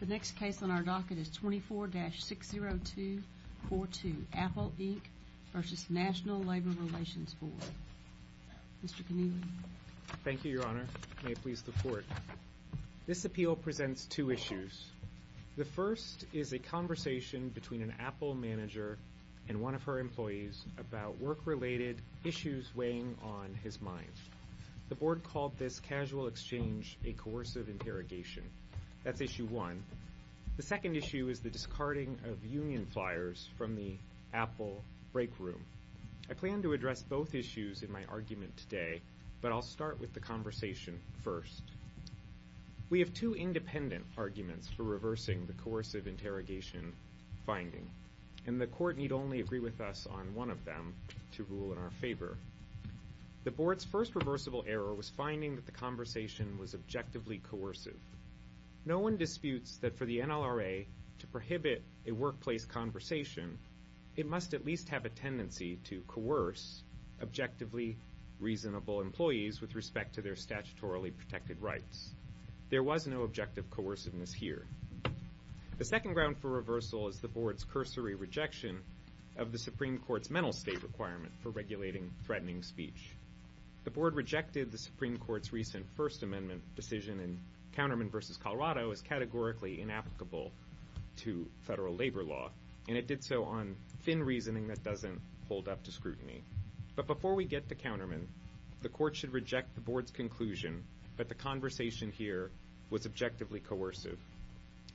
The next case on our docket is 24-60242, Apple Inc. v. National Labor Relations Board. Mr. Knievel. Thank you, Your Honor. May it please the Court. This appeal presents two issues. The first is a conversation between an Apple manager and one of her employees about work-related issues weighing on his mind. The Board called this casual exchange a coercive interrogation. That's issue one. The second issue is the discarding of union flyers from the Apple break room. I plan to address both issues in my argument today, but I'll start with the conversation first. We have two independent arguments for reversing the coercive interrogation finding, and the Court need only agree with us on one of them to rule in our favor. The Board's first reversible error was finding that the conversation was objectively coercive. No one disputes that for the NLRA to prohibit a workplace conversation, it must at least have a tendency to coerce objectively reasonable employees with respect to their statutorily protected rights. There was no objective coerciveness here. The second ground for reversal is the Board's cursory rejection of the Supreme Court's mental state requirement for regulating threatening speech. The Board rejected the Supreme Court's recent First Amendment decision in Counterman v. Colorado as categorically inapplicable to federal labor law, and it did so on thin reasoning that doesn't hold up to scrutiny. But before we get to Counterman, the Court should reject the Board's conclusion that the conversation here was objectively coercive.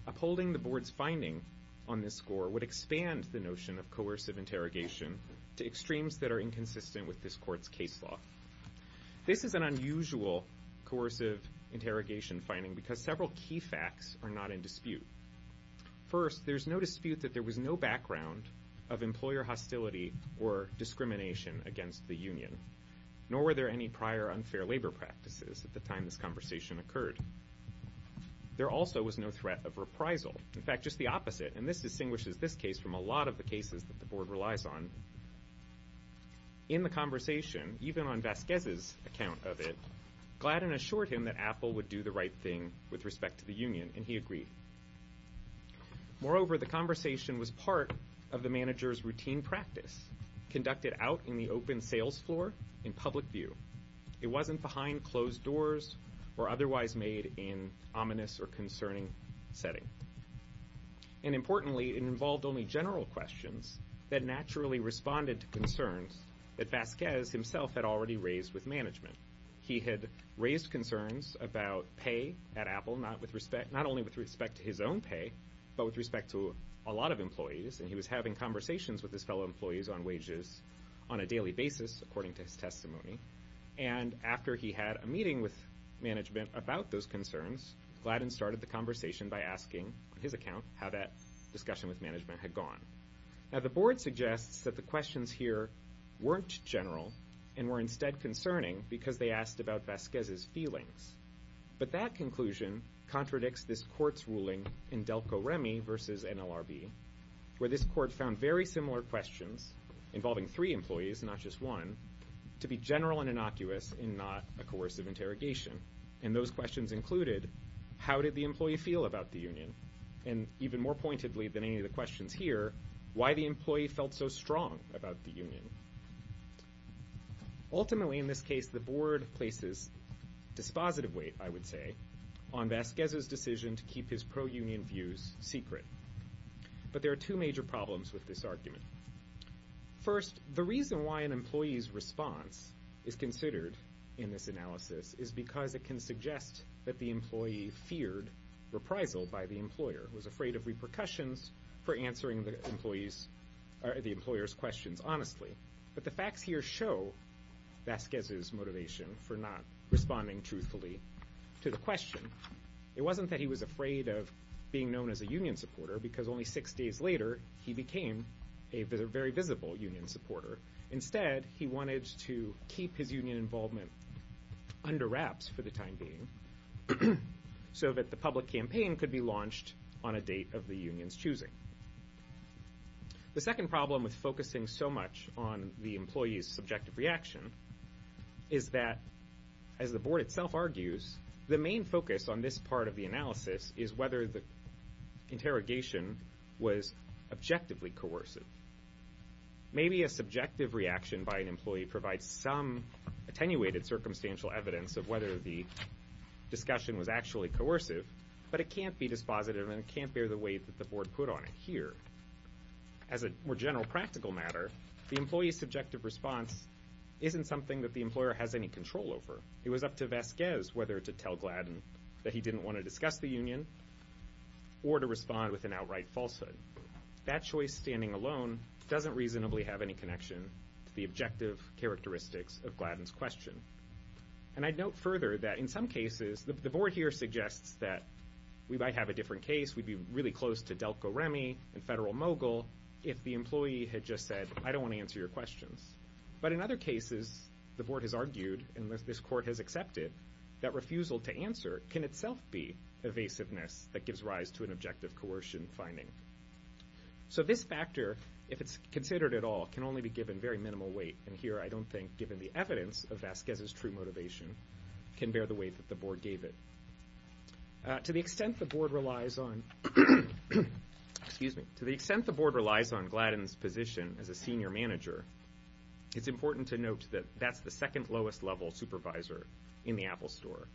Upholding the Board's finding on this score would expand the notion of coercive interrogation to extremes that are inconsistent with this Court's case law. This is an unusual coercive interrogation finding because several key facts are not in dispute. First, there's no dispute that there was no background of employer hostility or discrimination against the union, nor were there any prior unfair labor practices at the time this conversation occurred. There also was no threat of reprisal. In fact, just the opposite, and this distinguishes this case from a lot of the cases that the Board relies on. In the conversation, even on Vasquez's account of it, Gladden assured him that Apple would do the right thing with respect to the union, and he agreed. Moreover, the conversation was part of the manager's routine practice, conducted out in the open sales floor in public view. It wasn't behind closed doors or otherwise made in ominous or concerning setting. And importantly, it involved only general questions that naturally responded to concerns that Vasquez himself had already raised with management. He had raised concerns about pay at Apple, not only with respect to his own pay, but with respect to a lot of employees, and he was having conversations with his fellow employees on wages on a daily basis, according to his testimony. And after he had a meeting with management about those concerns, Gladden started the conversation by asking, on his account, how that discussion with management had gone. Now, the Board suggests that the questions here weren't general and were instead concerning because they asked about Vasquez's feelings. But that conclusion contradicts this Court's ruling in Delco-Remy v. NLRB, where this Court found very similar questions involving three employees, not just one, to be general and innocuous and not a coercive interrogation. And those questions included, how did the employee feel about the union? And even more pointedly than any of the questions here, why the employee felt so strong about the union. Ultimately, in this case, the Board places dispositive weight, I would say, on Vasquez's decision to keep his pro-union views secret. But there are two major problems with this argument. First, the reason why an employee's response is considered in this analysis is because it can suggest that the employee feared reprisal by the employer, was afraid of repercussions for answering the employer's questions honestly. But the facts here show Vasquez's motivation for not responding truthfully to the question. It wasn't that he was afraid of being known as a union supporter because only six days later he became a very visible union supporter. Instead, he wanted to keep his union involvement under wraps for the time being so that the public campaign could be launched on a date of the union's choosing. The second problem with focusing so much on the employee's subjective reaction is that, as the Board itself argues, the main focus on this part of the analysis is whether the interrogation was objectively coercive. Maybe a subjective reaction by an employee provides some attenuated circumstantial evidence of whether the discussion was actually coercive, but it can't be dispositive and it can't bear the weight that the Board put on it here. As a more general practical matter, the employee's subjective response isn't something that the employer has any control over. It was up to Vasquez whether to tell Gladden that he didn't want to discuss the union or to respond with an outright falsehood. That choice standing alone doesn't reasonably have any connection to the objective characteristics of Gladden's question. And I'd note further that in some cases, the Board here suggests that we might have a different case, we'd be really close to Delco Remy and Federal Mogul if the employee had just said, I don't want to answer your questions. But in other cases, the Board has argued, and this Court has accepted, that refusal to answer can itself be evasiveness that gives rise to an objective coercion finding. So this factor, if it's considered at all, can only be given very minimal weight. And here I don't think, given the evidence of Vasquez's true motivation, can bear the weight that the Board gave it. To the extent the Board relies on Gladden's position as a senior manager, it's important to note that that's the second lowest level supervisor in the Apple store.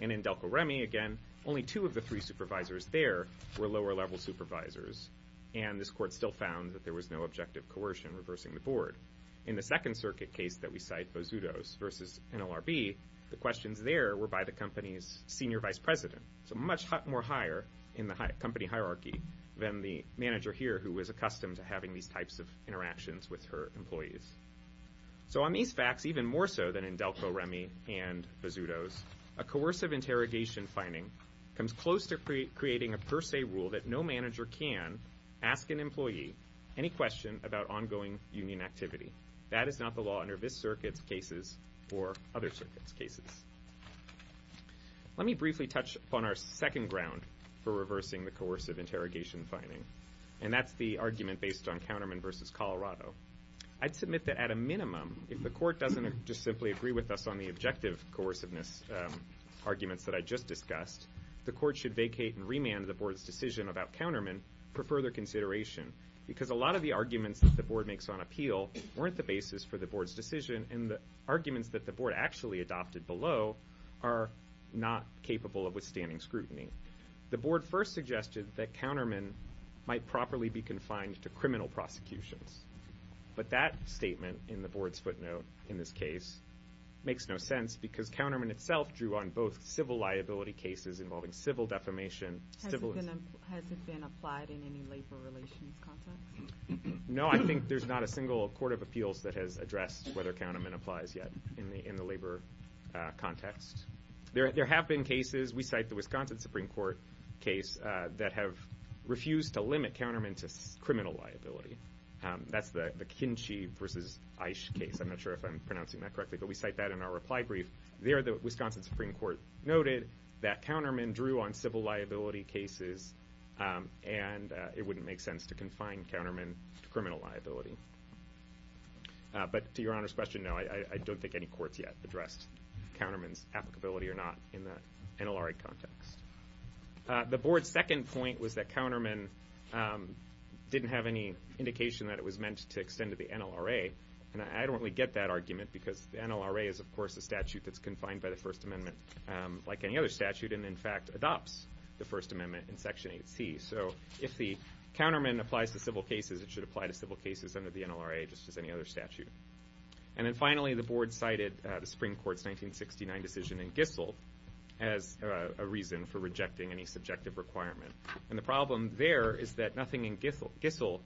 And in Delco Remy, again, only two of the three supervisors there were lower level supervisors, and this Court still found that there was no objective coercion reversing the Board. In the Second Circuit case that we cite, Bozudo's versus NLRB, the questions there were by the company's senior vice president. So much more higher in the company hierarchy than the manager here who was accustomed to having these types of interactions with her employees. So on these facts, even more so than in Delco Remy and Bozudo's, a coercive interrogation finding comes close to creating a per se rule that no manager can ask an employee any question about ongoing union activity. That is not the law under this Circuit's cases or other Circuits' cases. Let me briefly touch upon our second ground for reversing the coercive interrogation finding, and that's the argument based on Counterman versus Colorado. I'd submit that at a minimum, if the Court doesn't just simply agree with us on the objective coerciveness arguments that I just discussed, the Court should vacate and remand the Board's decision about Counterman for further consideration because a lot of the arguments that the Board makes on appeal weren't the basis for the Board's decision, and the arguments that the Board actually adopted below are not capable of withstanding scrutiny. The Board first suggested that Counterman might properly be confined to criminal prosecutions, but that statement in the Board's footnote in this case makes no sense because Counterman itself drew on both civil liability cases involving civil defamation. Has it been applied in any labor relations context? No, I think there's not a single court of appeals that has addressed whether Counterman applies yet in the labor context. There have been cases, we cite the Wisconsin Supreme Court case, that have refused to limit Counterman to criminal liability. That's the Kinchy versus Eich case. I'm not sure if I'm pronouncing that correctly, but we cite that in our reply brief. There the Wisconsin Supreme Court noted that Counterman drew on civil liability cases and it wouldn't make sense to confine Counterman to criminal liability. But to Your Honor's question, no, I don't think any courts yet addressed Counterman's applicability or not in the NLRA context. The Board's second point was that Counterman didn't have any indication that it was meant to extend to the NLRA, and I don't really get that argument because the NLRA is, of course, a statute that's confined by the First Amendment like any other statute and in fact adopts the First Amendment in Section 8C. So if the Counterman applies to civil cases, it should apply to civil cases under the NLRA just as any other statute. And then finally, the Board cited the Supreme Court's 1969 decision in Gissel as a reason for rejecting any subjective requirement. And the problem there is that nothing in Gissel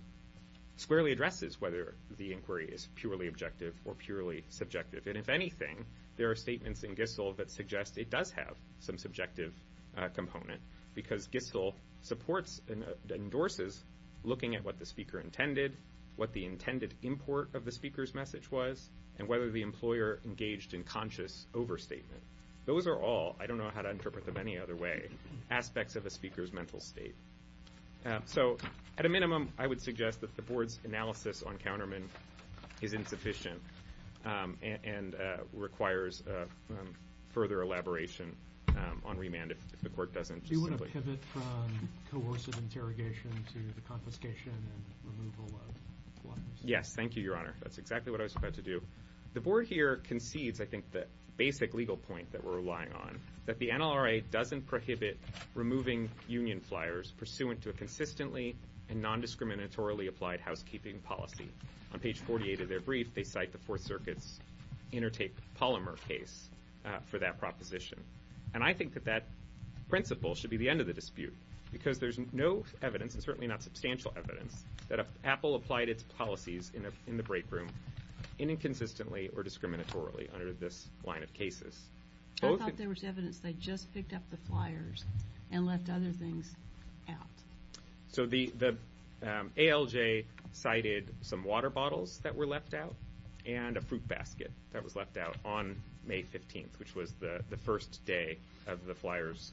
squarely addresses whether the inquiry is purely objective or purely subjective. And if anything, there are statements in Gissel that suggest it does have some subjective component because Gissel supports and endorses looking at what the speaker intended, what the intended import of the speaker's message was, and whether the employer engaged in conscious overstatement. Those are all, I don't know how to interpret them any other way, aspects of a speaker's mental state. So at a minimum, I would suggest that the Board's analysis on Counterman is insufficient and requires further elaboration on remand if the Court doesn't simply... Do you want to pivot from coercive interrogation to the confiscation and removal of flyers? Yes, thank you, Your Honor. That's exactly what I was about to do. The Board here concedes, I think, the basic legal point that we're relying on, that the NLRA doesn't prohibit removing union flyers pursuant to a consistently and non-discriminatorily applied housekeeping policy. On page 48 of their brief, they cite the Fourth Circuit's Intertake Polymer case for that proposition. And I think that that principle should be the end of the dispute because there's no evidence, and certainly not substantial evidence, that Apple applied its policies in the break room inconsistently or discriminatorily under this line of cases. I thought there was evidence they just picked up the flyers and left other things out. So the ALJ cited some water bottles that were left out and a fruit basket that was left out on May 15th, which was the first day of the flyers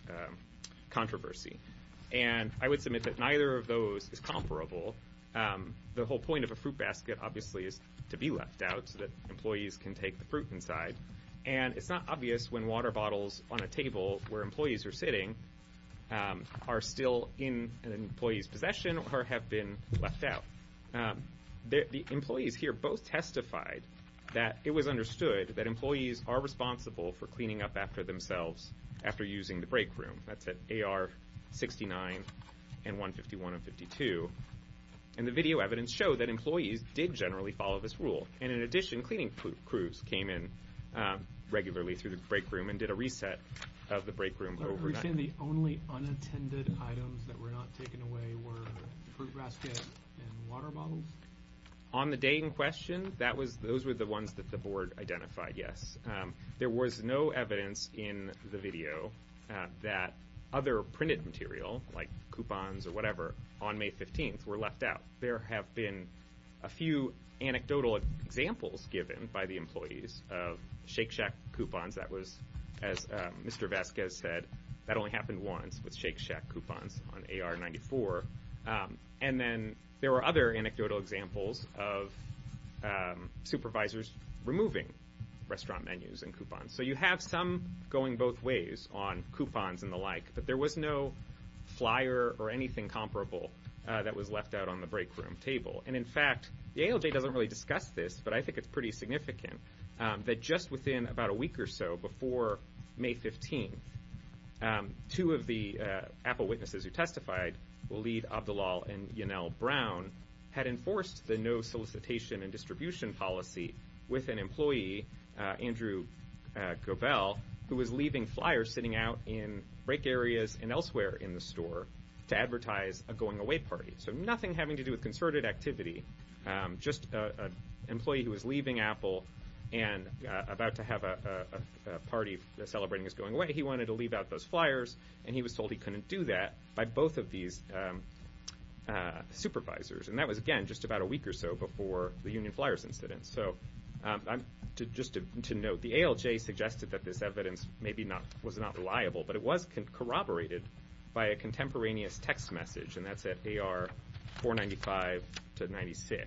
controversy. And I would submit that neither of those is comparable. The whole point of a fruit basket, obviously, is to be left out so that employees can take the fruit inside. And it's not obvious when water bottles on a table where employees are sitting are still in an employee's possession or have been left out. The employees here both testified that it was understood that employees are responsible for cleaning up after themselves after using the break room. That's at AR 69 and 151 and 52. And the video evidence showed that employees did generally follow this rule. And in addition, cleaning crews came in regularly through the break room and did a reset of the break room overnight. The only unattended items that were not taken away were the fruit basket and water bottles? On the day in question, those were the ones that the board identified, yes. There was no evidence in the video that other printed material, like coupons or whatever, on May 15th were left out. There have been a few anecdotal examples given by the employees of Shake Shack coupons that was, as Mr. Vasquez said, that only happened once with Shake Shack coupons on AR 94. And then there were other anecdotal examples of supervisors removing restaurant menus and coupons. So you have some going both ways on coupons and the like, but there was no flyer or anything comparable that was left out on the break room table. And, in fact, the ALJ doesn't really discuss this, but I think it's pretty significant that just within about a week or so before May 15th, two of the Apple witnesses who testified, Waleed Abdullal and Yanell Brown, had enforced the no solicitation and distribution policy with an employee, Andrew Gobel, who was leaving flyers sitting out in break areas and elsewhere in the store to advertise a going-away party. So nothing having to do with concerted activity. Just an employee who was leaving Apple and about to have a party celebrating his going away. He wanted to leave out those flyers, and he was told he couldn't do that by both of these supervisors. And that was, again, just about a week or so before the union flyers incident. So just to note, the ALJ suggested that this evidence maybe was not reliable, but it was corroborated by a contemporaneous text message, and that's at AR-495-96.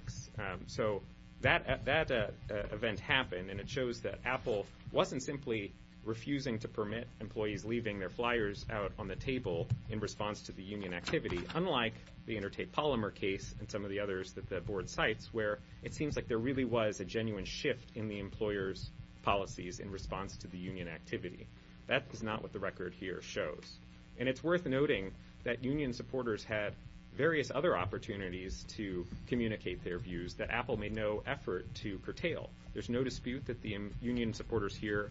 So that event happened, and it shows that Apple wasn't simply refusing to permit employees leaving their flyers out on the table in response to the union activity, unlike the Intertate Polymer case and some of the others that the board cites, where it seems like there really was a genuine shift in the employer's policies in response to the union activity. That is not what the record here shows. And it's worth noting that union supporters had various other opportunities to communicate their views that Apple made no effort to curtail. There's no dispute that the union supporters here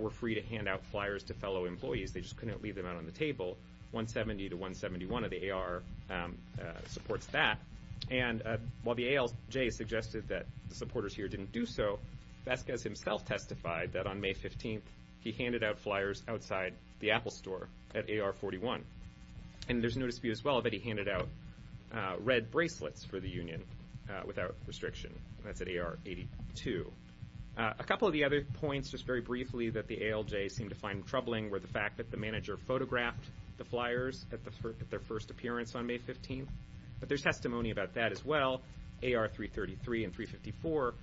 were free to hand out flyers to fellow employees. They just couldn't leave them out on the table. 170 to 171 of the AR supports that. And while the ALJ suggested that the supporters here didn't do so, Vasquez himself testified that on May 15th he handed out flyers outside the Apple store at AR-41. And there's no dispute as well that he handed out red bracelets for the union without restriction. That's at AR-82. A couple of the other points, just very briefly, that the ALJ seemed to find troubling were the fact that the manager photographed the flyers at their first appearance on May 15th. But there's testimony about that as well. AR-333 and 354,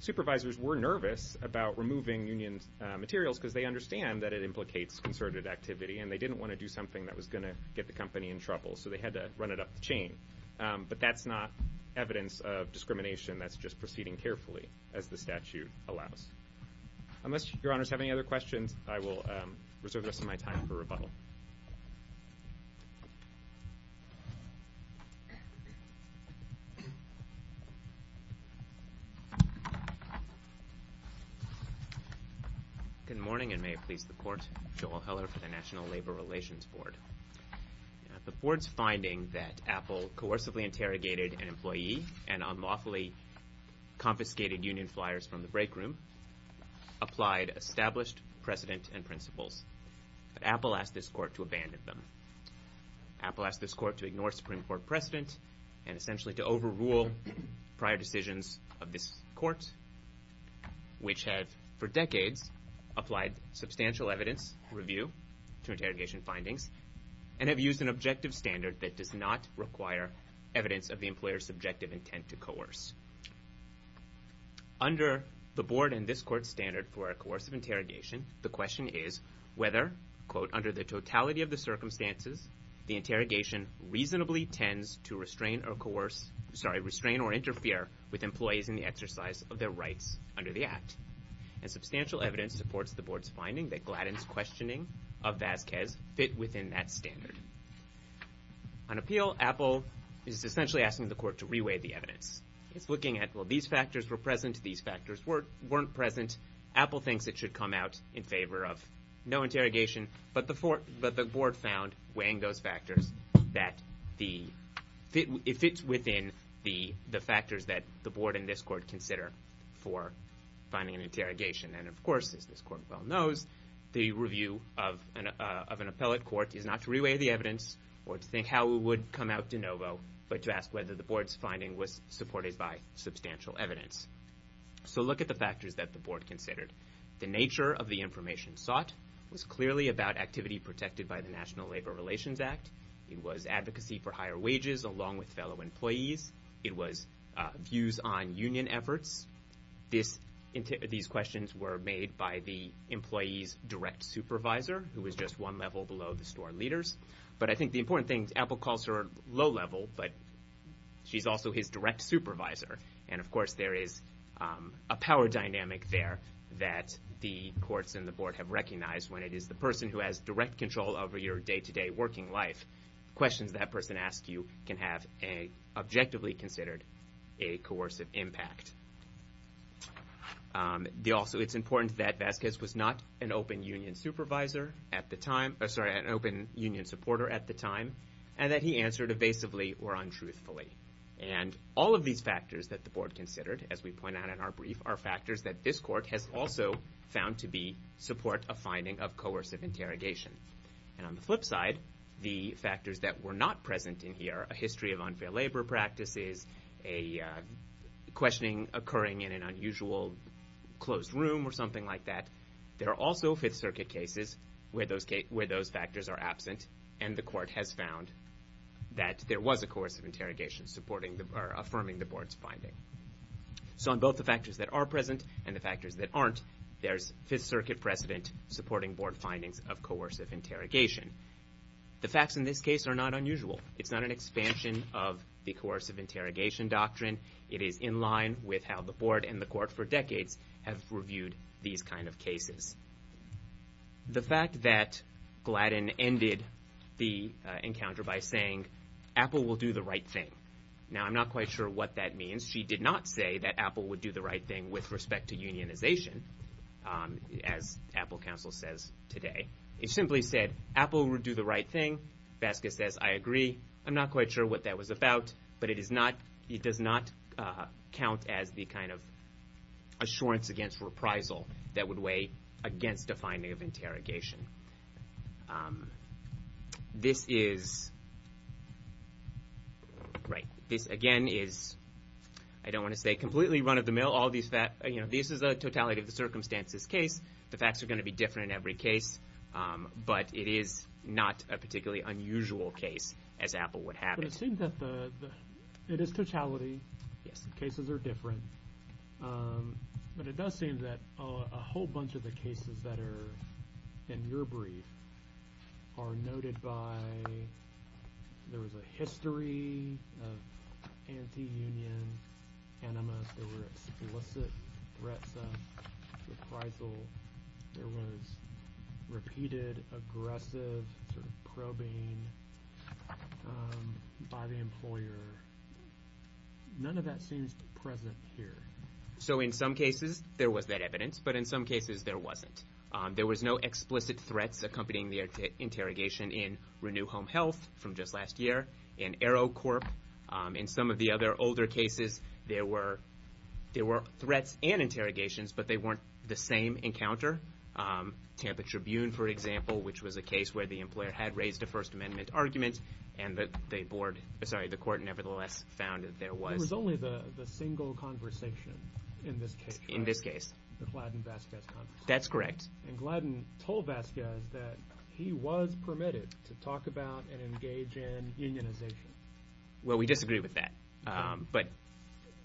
supervisors were nervous about removing union materials because they understand that it implicates concerted activity, and they didn't want to do something that was going to get the company in trouble, so they had to run it up the chain. But that's not evidence of discrimination. That's just proceeding carefully, as the statute allows. Unless your honors have any other questions, I will reserve the rest of my time for rebuttal. Good morning, and may it please the court. Joel Heller for the National Labor Relations Board. The board's finding that Apple coercively interrogated an employee and unlawfully confiscated union flyers from the break room applied established precedent and principles. But Apple asked this court to abandon them. Apple asked this court to ignore Supreme Court precedent and essentially to overrule prior decisions of this court, which have, for decades, applied substantial evidence review to interrogation findings and have used an objective standard that does not require evidence of the employer's subjective intent to coerce. Under the board and this court's standard for a coercive interrogation, the question is whether, quote, under the totality of the circumstances, the interrogation reasonably tends to restrain or coerce, sorry, restrain or interfere with employees in the exercise of their rights under the act. And substantial evidence supports the board's finding that Gladden's questioning of Vasquez fit within that standard. On appeal, Apple is essentially asking the court to reweigh the evidence. It's looking at, well, these factors were present, these factors weren't present. Apple thinks it should come out in favor of no interrogation, but the board found, weighing those factors, that it fits within the factors that the board and this court consider for finding an interrogation. And of course, as this court well knows, the review of an appellate court is not to reweigh the evidence or to think how it would come out de novo, but to ask whether the board's finding was supported by substantial evidence. So look at the factors that the board considered. The nature of the information sought was clearly about activity protected by the National Labor Relations Act. It was advocacy for higher wages, along with fellow employees. It was views on union efforts. These questions were made by the employee's direct supervisor, who was just one level below the store leaders. But I think the important thing, Apple calls her low-level, but she's also his direct supervisor. And of course, there is a power dynamic there that the courts and the board have recognized when it is the person who has direct control over your day-to-day working life. Questions that person asks you can have an objectively considered a coercive impact. Also, it's important that Vasquez was not an open union supervisor at the time, sorry, an open union supporter at the time, and that he answered evasively or untruthfully. And all of these factors that the board considered, as we point out in our brief, are factors that this court has also found to be support of finding of coercive interrogation. And on the flip side, the factors that were not present in here, a history of unfair labor practices, a questioning occurring in an unusual closed room or something like that, there are also Fifth Circuit cases where those factors are absent, and the court has found that there was a coercive interrogation affirming the board's finding. So on both the factors that are present and the factors that aren't, there's Fifth Circuit precedent supporting board findings of coercive interrogation. The facts in this case are not unusual. It's not an expansion of the coercive interrogation doctrine. It is in line with how the board and the court for decades have reviewed these kind of cases. The fact that Gladden ended the encounter by saying, Apple will do the right thing. Now, I'm not quite sure what that means. She did not say that Apple would do the right thing with respect to unionization, as Apple counsel says today. It simply said Apple would do the right thing. Vasquez says, I agree. I'm not quite sure what that was about, but it does not count as the kind of assurance against reprisal that would weigh against a finding of interrogation. This is... Right. This, again, is, I don't want to say, completely run-of-the-mill. All these facts, you know, this is a totality of the circumstances case. The facts are going to be different in every case, but it is not a particularly unusual case, as Apple would have it. But it seems that the... It is totality. Yes. Cases are different. But it does seem that a whole bunch of the cases that are in your brief are noted by... There was a history of anti-union animus. There were explicit threats of reprisal. There was repeated aggressive sort of probing by the employer. None of that seems present here. So in some cases, there was that evidence, but in some cases, there wasn't. There was no explicit threats accompanying the interrogation in Renew Home Health from just last year, in Aero Corp. In some of the other older cases, there were threats and interrogations, but they weren't the same encounter. Tampa Tribune, for example, which was a case where the employer had raised a First Amendment argument, and the court nevertheless found that there was... It was only the single conversation in this case. In this case. The Gladden-Vazquez conversation. That's correct. And Gladden told Vazquez that he was permitted to talk about and engage in unionization. Well, we disagree with that, but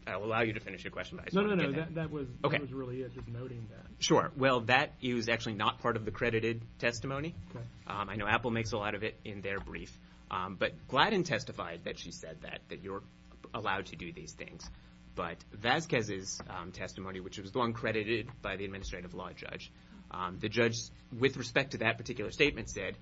I will allow you to finish your question. No, no, no. That was really just noting that. Well, that is actually not part of the credited testimony. I know Apple makes a lot of it in their brief, but Gladden testified that she said that, that you're allowed to do these things, but Vazquez's testimony, which was the one credited by the administrative law judge, the judge, with respect to that particular statement, said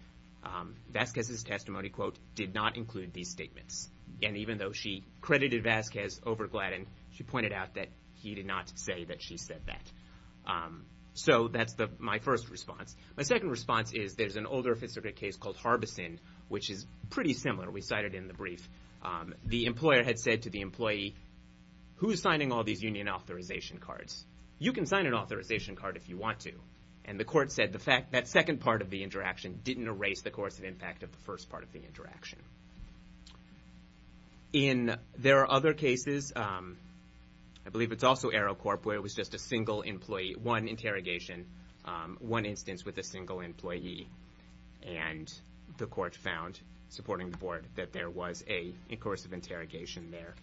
Vazquez's testimony, quote, did not include these statements. And even though she credited Vazquez over Gladden, she pointed out that he did not say that she said that. So that's my first response. My second response is there's an older Fisker case called Harbison, which is pretty similar. We cited in the brief. The employer had said to the employee, who's signing all these union authorization cards? You can sign an authorization card if you want to. And the court said that second part of the interaction didn't erase the coercive impact of the first part of the interaction. In there are other cases, I believe it's also AeroCorp, where it was just a single employee, one interrogation, one instance with a single employee, and the court found, supporting the board, that there was a coercive interrogation there.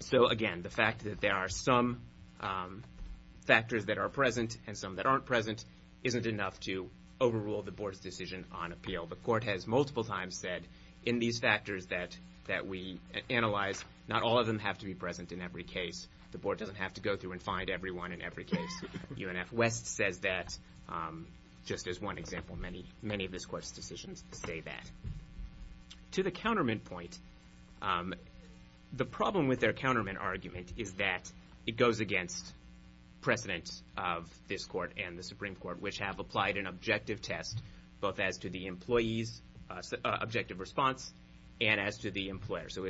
So, again, the fact that there are some factors that are present and some that aren't present isn't enough to overrule the board's decision on appeal. The court has multiple times said, in these factors that we analyzed, not all of them have to be present in every case. The board doesn't have to go through and find everyone in every case. UNF West says that, just as one example. Many of this court's decisions say that. To the counterment point, the problem with their counterment argument is that it goes against precedent of this court and the Supreme Court, which have applied an objective test, both as to the employee's objective response and as to the employer's. So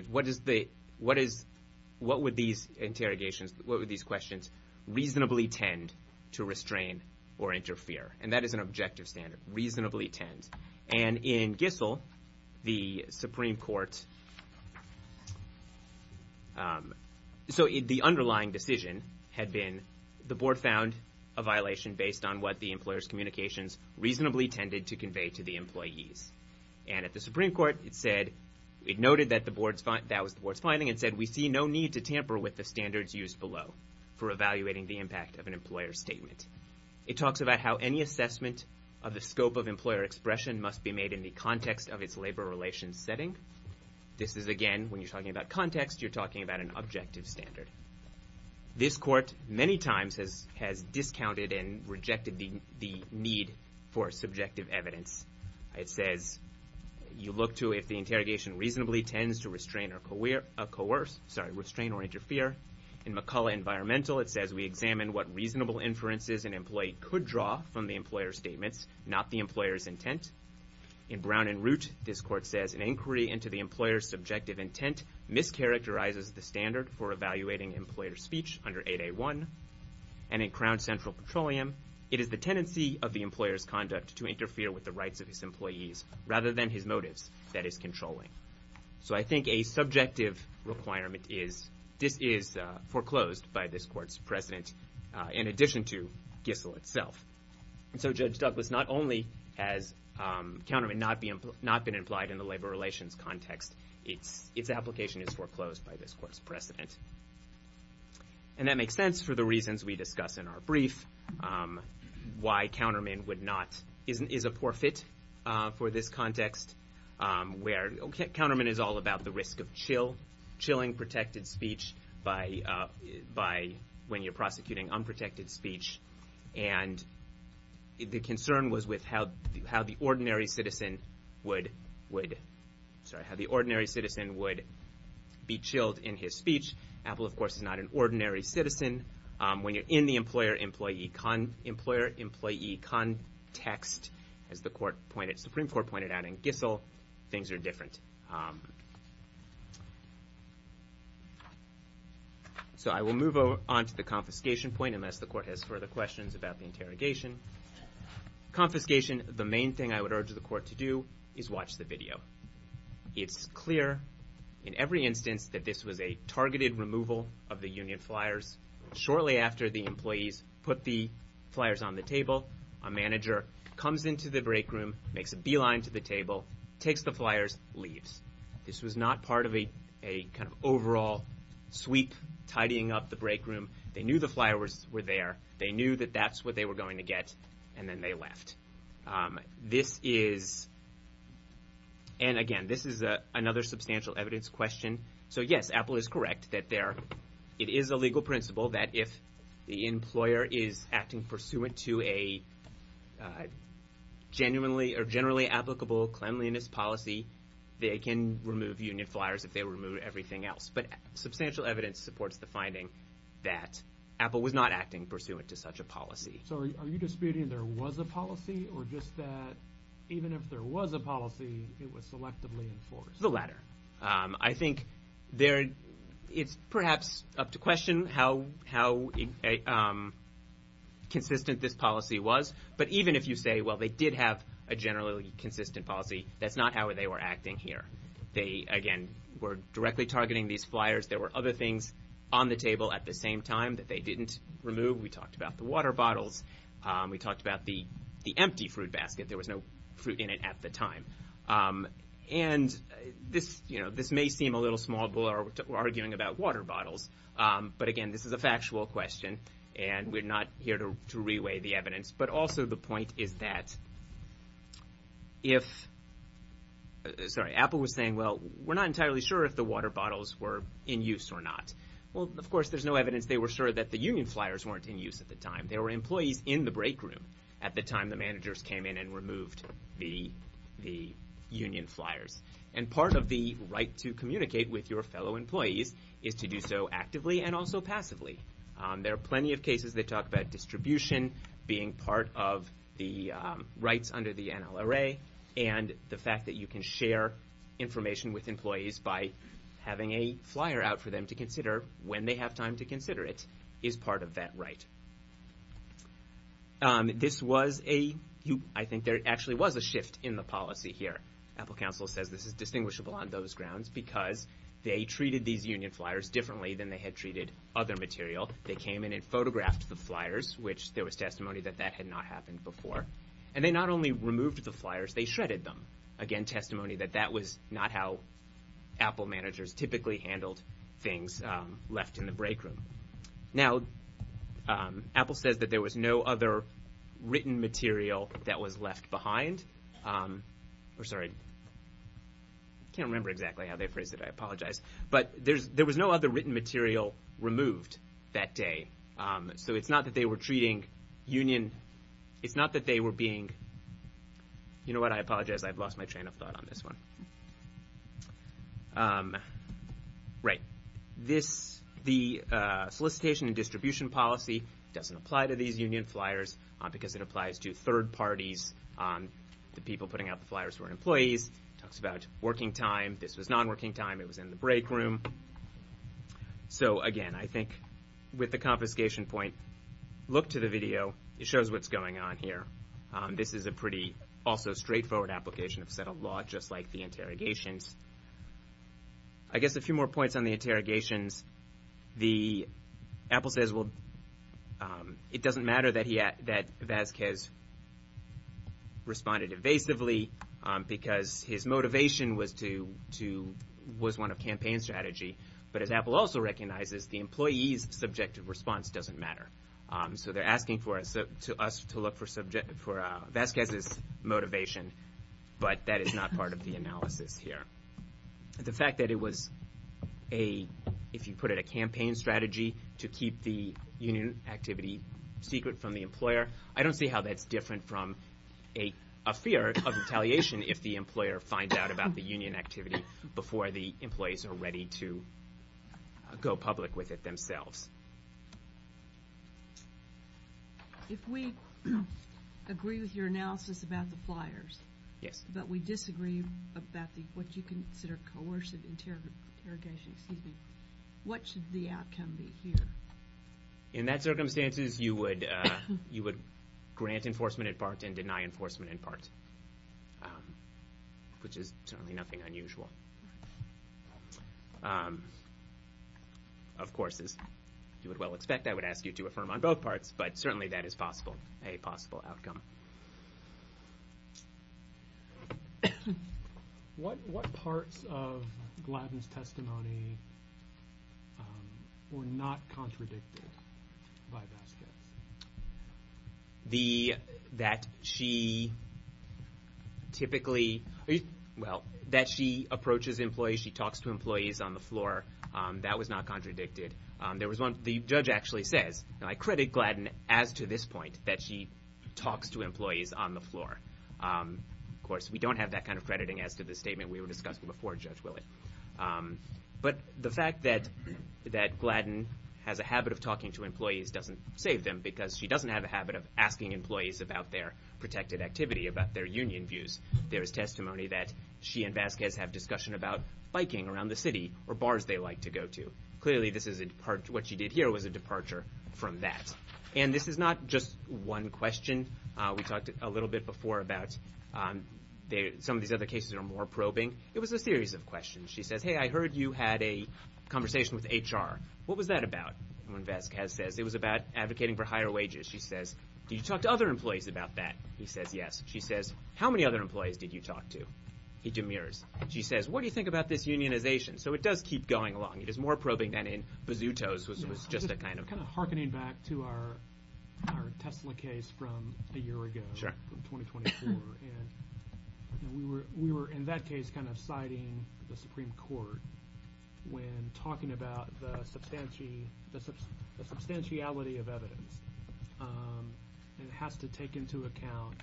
what would these interrogations, what would these questions reasonably tend to restrain or interfere? And that is an objective standard, reasonably tend. And in Gissel, the Supreme Court... So the underlying decision had been, the board found a violation based on what the employer's communications reasonably tended to convey to the employees. And at the Supreme Court, it said, it noted that that was the board's finding and said, we see no need to tamper with the standards used below for evaluating the impact of an employer statement. It talks about how any assessment of the scope of employer expression must be made in the context of its labor relations setting. This is, again, when you're talking about context, you're talking about an objective standard. This court many times has discounted and rejected the need for subjective evidence. It says, you look to if the interrogation reasonably tends to restrain or coerce, sorry, restrain or interfere. In McCullough Environmental, it says, we examine what reasonable inferences an employee could draw from the employer statements, not the employer's intent. In Brown and Root, this court says, an inquiry into the employer's subjective intent mischaracterizes the standard for evaluating employer speech under 8A1. And in Crown Central Petroleum, it is the tendency of the employer's conduct to interfere with the rights of his employees rather than his motives that is controlling. So I think a subjective requirement is, this is foreclosed by this court's precedent in addition to Gissell itself. And so Judge Douglas, not only has countermeasure not been implied in the labor relations context, its application is foreclosed by this court's precedent. And that makes sense for the reasons we discuss in our brief. Why counterman would not, is a poor fit for this context where counterman is all about the risk of chill, chilling protected speech by, when you're prosecuting unprotected speech. And the concern was with how the ordinary citizen would, sorry, how the ordinary citizen would be chilled in his speech. Apple, of course, is not an ordinary citizen. When you're in the employer-employee context, as the Supreme Court pointed out in Gissell, things are different. So I will move on to the confiscation point unless the court has further questions about the interrogation. Confiscation, the main thing I would urge the court to do is watch the video. It's clear in every instance that this was a targeted removal of the union flyers. Shortly after the employees put the flyers on the table, a manager comes into the break room, makes a beeline to the table, takes the flyers, leaves. This was not part of a kind of overall sweep, tidying up the break room. They knew the flyers were there. They knew that that's what they were going to get, and then they left. This is... And again, this is another substantial evidence question. So yes, Apple is correct that it is a legal principle that if the employer is acting pursuant to a generally applicable cleanliness policy, they can remove union flyers if they remove everything else. But substantial evidence supports the finding that Apple was not acting pursuant to such a policy. So are you disputing there was a policy, or just that even if there was a policy, it was selectively enforced? The latter. I think it's perhaps up to question how consistent this policy was. But even if you say, well, they did have a generally consistent policy, that's not how they were acting here. They, again, were directly targeting these flyers. There were other things on the table at the same time that they didn't remove. We talked about the water bottles. We talked about the empty fruit basket. There was no fruit in it at the time. And this may seem a little small. We're arguing about water bottles. But again, this is a factual question, and we're not here to reweigh the evidence. But also the point is that if... Sorry, Apple was saying, well, we're not entirely sure if the water bottles were in use or not. Well, of course, there's no evidence they were sure that the union flyers weren't in use at the time. There were employees in the break room at the time the managers came in and removed the union flyers. And part of the right to communicate with your fellow employees is to do so actively and also passively. There are plenty of cases that talk about distribution being part of the rights under the NLRA and the fact that you can share information with employees by having a flyer out for them to consider or when they have time to consider it is part of that right. This was a... I think there actually was a shift in the policy here. Apple Council says this is distinguishable on those grounds because they treated these union flyers differently than they had treated other material. They came in and photographed the flyers, which there was testimony that that had not happened before. And they not only removed the flyers, they shredded them. Again, testimony that that was not how Apple managers typically handled things left in the break room. Now, Apple says that there was no other written material that was left behind. I'm sorry. I can't remember exactly how they phrased it. But there was no other written material removed that day. So it's not that they were treating union... It's not that they were being... You know what? I apologize. I've lost my train of thought on this one. Right. This... The solicitation and distribution policy doesn't apply to these union flyers because it applies to third parties. The people putting out the flyers were employees. Talks about working time. This was non-working time. It was in the break room. So, again, I think with the confiscation point, look to the video. It shows what's going on here. This is a pretty also straightforward application of settled law, just like the interrogations. I guess a few more points on the interrogations. Apple says, well, it doesn't matter that Vasquez responded evasively because his motivation was one of campaign strategy. But as Apple also recognizes, the employee's subjective response doesn't matter. So they're asking us to look for Vasquez's motivation. But that is not part of the analysis here. The fact that it was a... If you put it, a campaign strategy to keep the union activity secret from the employer, I don't see how that's different from a fear of retaliation if the employer finds out about the union activity before the employees are ready to go public with it themselves. If we agree with your analysis about the flyers, but we disagree about what you consider coercive interrogation, what should the outcome be here? In that circumstances, you would grant enforcement in part and deny enforcement in part, which is certainly nothing unusual. Of course, as you would well expect, I would ask you to affirm on both parts, but certainly that is possible, a possible outcome. What parts of Gladden's testimony were not contradicted by Vasquez? That she typically... Well, that she approaches employees, she talks to employees on the floor, that was not contradicted. The judge actually says, and I credit Gladden as to this point, that she talks to employees on the floor. Of course, we don't have that kind of crediting as to the statement we were discussing before Judge Willett. But the fact that Gladden has a habit of talking to employees doesn't save them because she doesn't have a habit of asking employees about their protected activity, about their union views. There is testimony that she and Vasquez have discussion about biking around the city or bars they like to go to. Clearly, what she did here was a departure from that. And this is not just one question. We talked a little bit before about some of these other cases that are more probing. It was a series of questions. She says, hey, I heard you had a conversation with HR. What was that about? Vasquez says it was about advocating for higher wages. She says, did you talk to other employees about that? He says, yes. She says, how many other employees did you talk to? He demurs. She says, what do you think about this unionization? So it does keep going along. It is more probing than in Bazutos, which was just a kind of. Kind of hearkening back to our Tesla case from a year ago, from 2024. And we were in that case kind of citing the Supreme Court when talking about the substantiality of evidence. And it has to take into account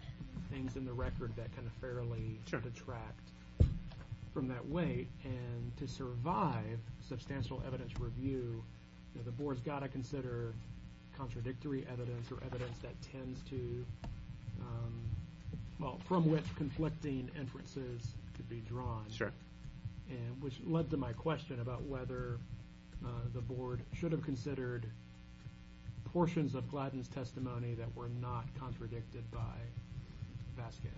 things in the record that kind of fairly detract from that weight. And to survive substantial evidence review, the board has got to consider contradictory evidence or evidence that tends to, well, from which conflicting inferences could be drawn. Sure. And which led to my question about whether the board should have considered portions of Gladden's testimony that were not contradicted by Vasquez.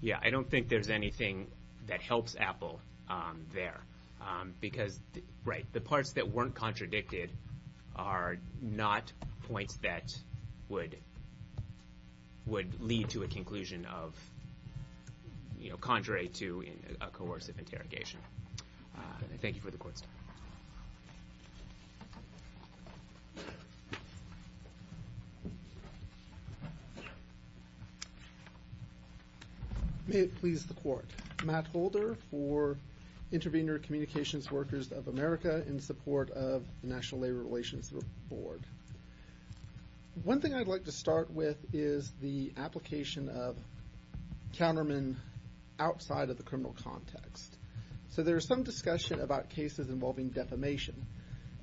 Yeah, I don't think there's anything that helps Apple there. Because, right, the parts that weren't contradicted are not points that would lead to a conclusion of, you know, contrary to a coercive interrogation. Thank you for the question. May it please the court. Matt Holder for Intervenor Communications Workers of America in support of the National Labor Relations Board. One thing I'd like to start with is the application of countermen outside of the criminal context. So there's some discussion about cases involving defamation.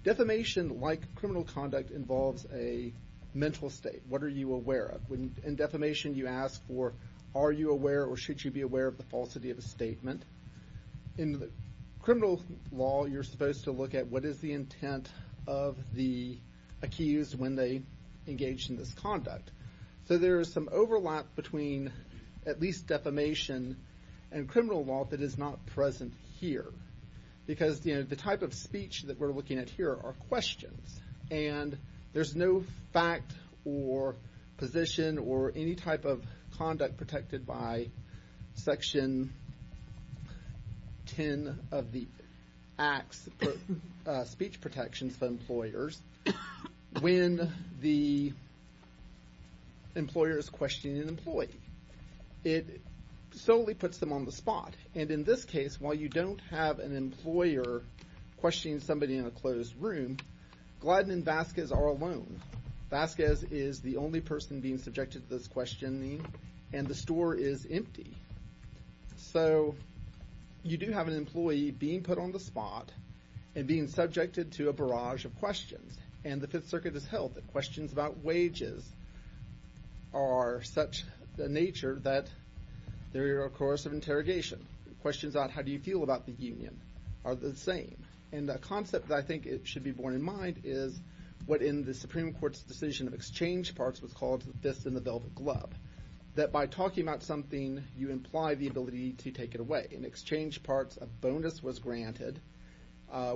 Defamation, like criminal conduct, involves a mental state. What are you aware of? In defamation, you ask for are you aware or should you be aware of the falsity of a statement. In criminal law, you're supposed to look at what is the intent of the accused when they engage in this conduct. So there is some overlap between at least defamation and criminal law that is not present here. Because, you know, the type of speech that we're looking at here are questions, and there's no fact or position or any type of conduct protected by Section 10 of the Act's speech protections for employers. When the employer is questioning an employee, it solely puts them on the spot. And in this case, while you don't have an employer questioning somebody in a closed room, Gladden and Vasquez are alone. Vasquez is the only person being subjected to this questioning, and the store is empty. So you do have an employee being put on the spot and being subjected to a barrage of questions. And the Fifth Circuit has held that questions about wages are such a nature that they're a course of interrogation. Questions about how do you feel about the union are the same. And a concept that I think should be borne in mind is what in the Supreme Court's decision of exchange parts was called the fist in the velvet glove, that by talking about something, you imply the ability to take it away. In exchange parts, a bonus was granted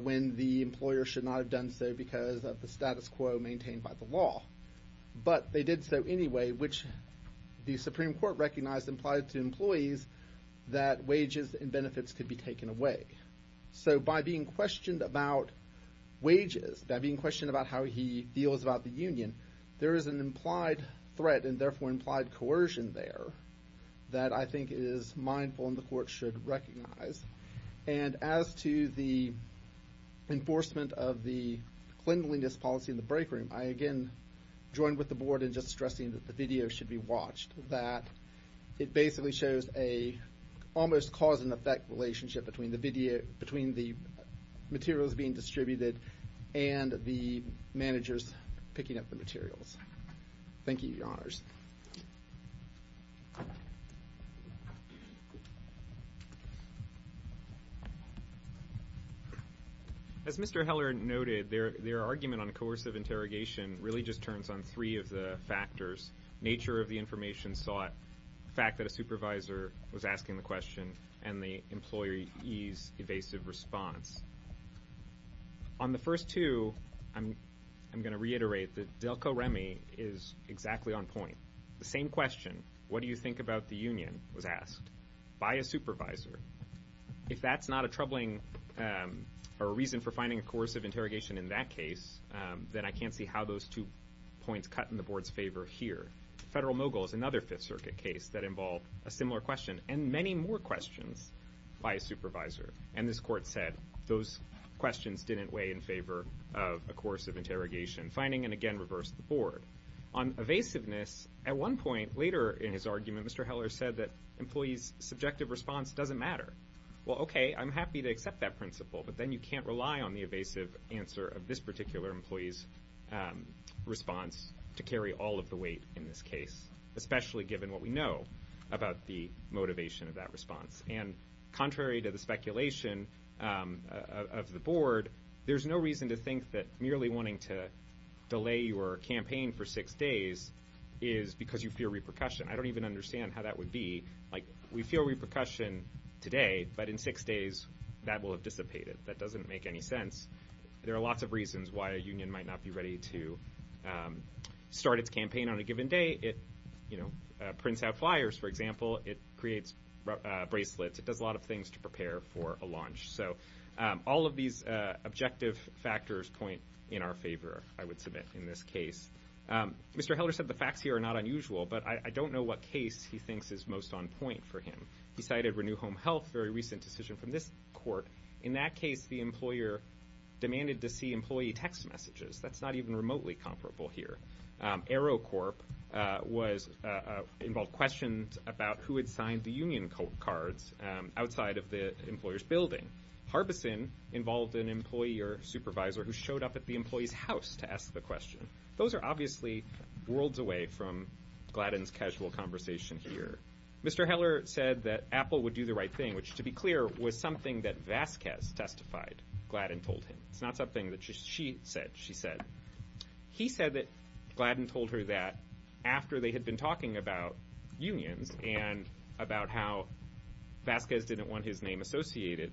when the employer should not have done so because of the status quo maintained by the law. But they did so anyway, which the Supreme Court recognized implied to employees that wages and benefits could be taken away. So by being questioned about wages, by being questioned about how he feels about the union, there is an implied threat and therefore implied coercion there that I think is mindful and the court should recognize. And as to the enforcement of the cleanliness policy in the break room, I again join with the board in just stressing that the video should be watched, that it basically shows an almost cause and effect relationship between the materials being distributed and the managers picking up the materials. Thank you, Your Honors. As Mr. Heller noted, their argument on coercive interrogation really just turns on three of the factors, nature of the information sought, the fact that a supervisor was asking the question, and the employee's evasive response. On the first two, I'm going to reiterate that Delco Remy is exactly on point. The same question, what do you think the employer should do was asked by a supervisor. If that's not a troubling reason for finding a coercive interrogation in that case, then I can't see how those two points cut in the board's favor here. Federal mogul is another Fifth Circuit case that involved a similar question and many more questions by a supervisor. And this court said those questions didn't weigh in favor of a coercive interrogation, finding and again reversed the board. On evasiveness, at one point later in his argument, Mr. Heller said that employee's subjective response doesn't matter. Well, okay, I'm happy to accept that principle, but then you can't rely on the evasive answer of this particular employee's response to carry all of the weight in this case, especially given what we know about the motivation of that response. And contrary to the speculation of the board, there's no reason to think that merely wanting to delay your campaign for six days is because you fear repercussion. I don't even understand how that would be. Like, we feel repercussion today, but in six days, that will have dissipated. That doesn't make any sense. There are lots of reasons why a union might not be ready to start its campaign on a given day. It, you know, prints out flyers, for example. It creates bracelets. It does a lot of things to prepare for a launch. So all of these objective factors point in our favor, I would submit, in this case. Mr. Heller said the facts here are not unusual, but I don't know what case he thinks is most on point for him. He cited Renew Home Health, a very recent decision from this court. In that case, the employer demanded to see employee text messages. That's not even remotely comparable here. AeroCorp involved questions about who had signed the union cards outside of the employer's building. Harbison involved an employee or supervisor who showed up at the employee's house to ask the question. Those are obviously worlds away from Gladden's casual conversation here. Mr. Heller said that Apple would do the right thing, which, to be clear, was something that Vasquez testified Gladden told him. It's not something that she said she said. He said that Gladden told her that after they had been talking about unions and about how Vasquez didn't want his name associated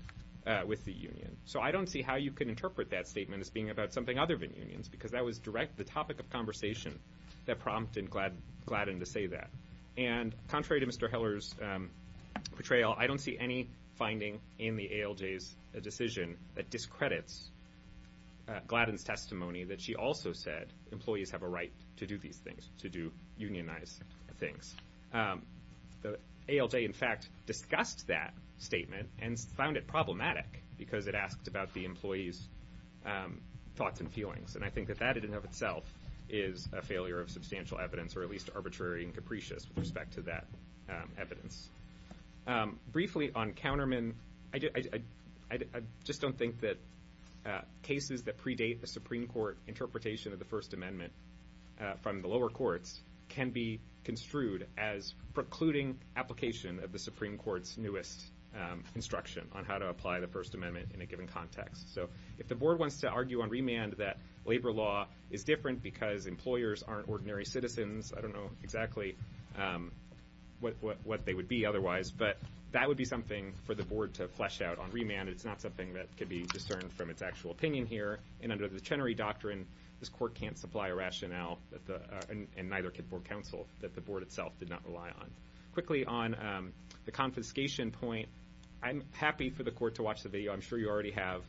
with the union. So I don't see how you can interpret that statement as being about something other than unions, because that was the topic of conversation that prompted Gladden to say that. And contrary to Mr. Heller's portrayal, I don't see any finding in the ALJ's decision that discredits Gladden's testimony that she also said employees have a right to do these things, to unionize things. The ALJ, in fact, discussed that statement and found it problematic because it asked about the employees' thoughts and feelings. And I think that that, in and of itself, is a failure of substantial evidence, or at least arbitrary and capricious with respect to that evidence. Briefly, on countermen, I just don't think that cases that predate the Supreme Court interpretation of the First Amendment from the lower courts can be construed as precluding application of the Supreme Court's newest instruction on how to apply the First Amendment in a given context. So if the board wants to argue on remand that labor law is different because employers aren't ordinary citizens, I don't know exactly what they would be otherwise, but that would be something for the board to flesh out on remand. It's not something that could be discerned from its actual opinion here, and under the Chenery Doctrine, this court can't supply a rationale, and neither can board counsel, that the board itself did not rely on. Quickly, on the confiscation point, I'm happy for the court to watch the video. I'm sure you already have.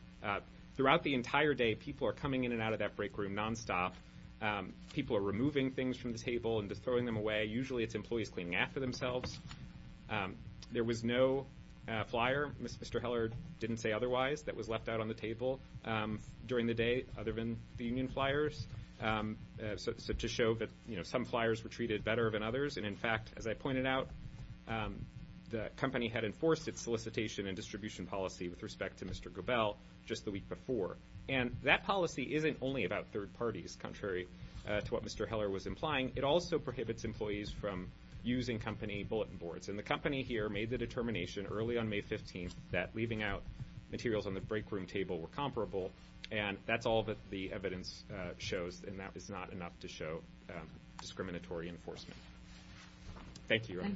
Throughout the entire day, people are coming in and out of that break room nonstop. People are removing things from the table and just throwing them away. Usually it's employees cleaning after themselves. There was no flyer. Mr. Heller didn't say otherwise that was left out on the table during the day other than the union flyers, to show that some flyers were treated better than others, and in fact, as I pointed out, the company had enforced its solicitation and distribution policy with respect to Mr. Goebel just the week before, and that policy isn't only about third parties, contrary to what Mr. Heller was implying. It also prohibits employees from using company bulletin boards, and the company here made the determination early on May 15th that leaving out materials on the break room table were comparable, and that's all that the evidence shows, and that is not enough to show discriminatory enforcement. Thank you, Your Honor.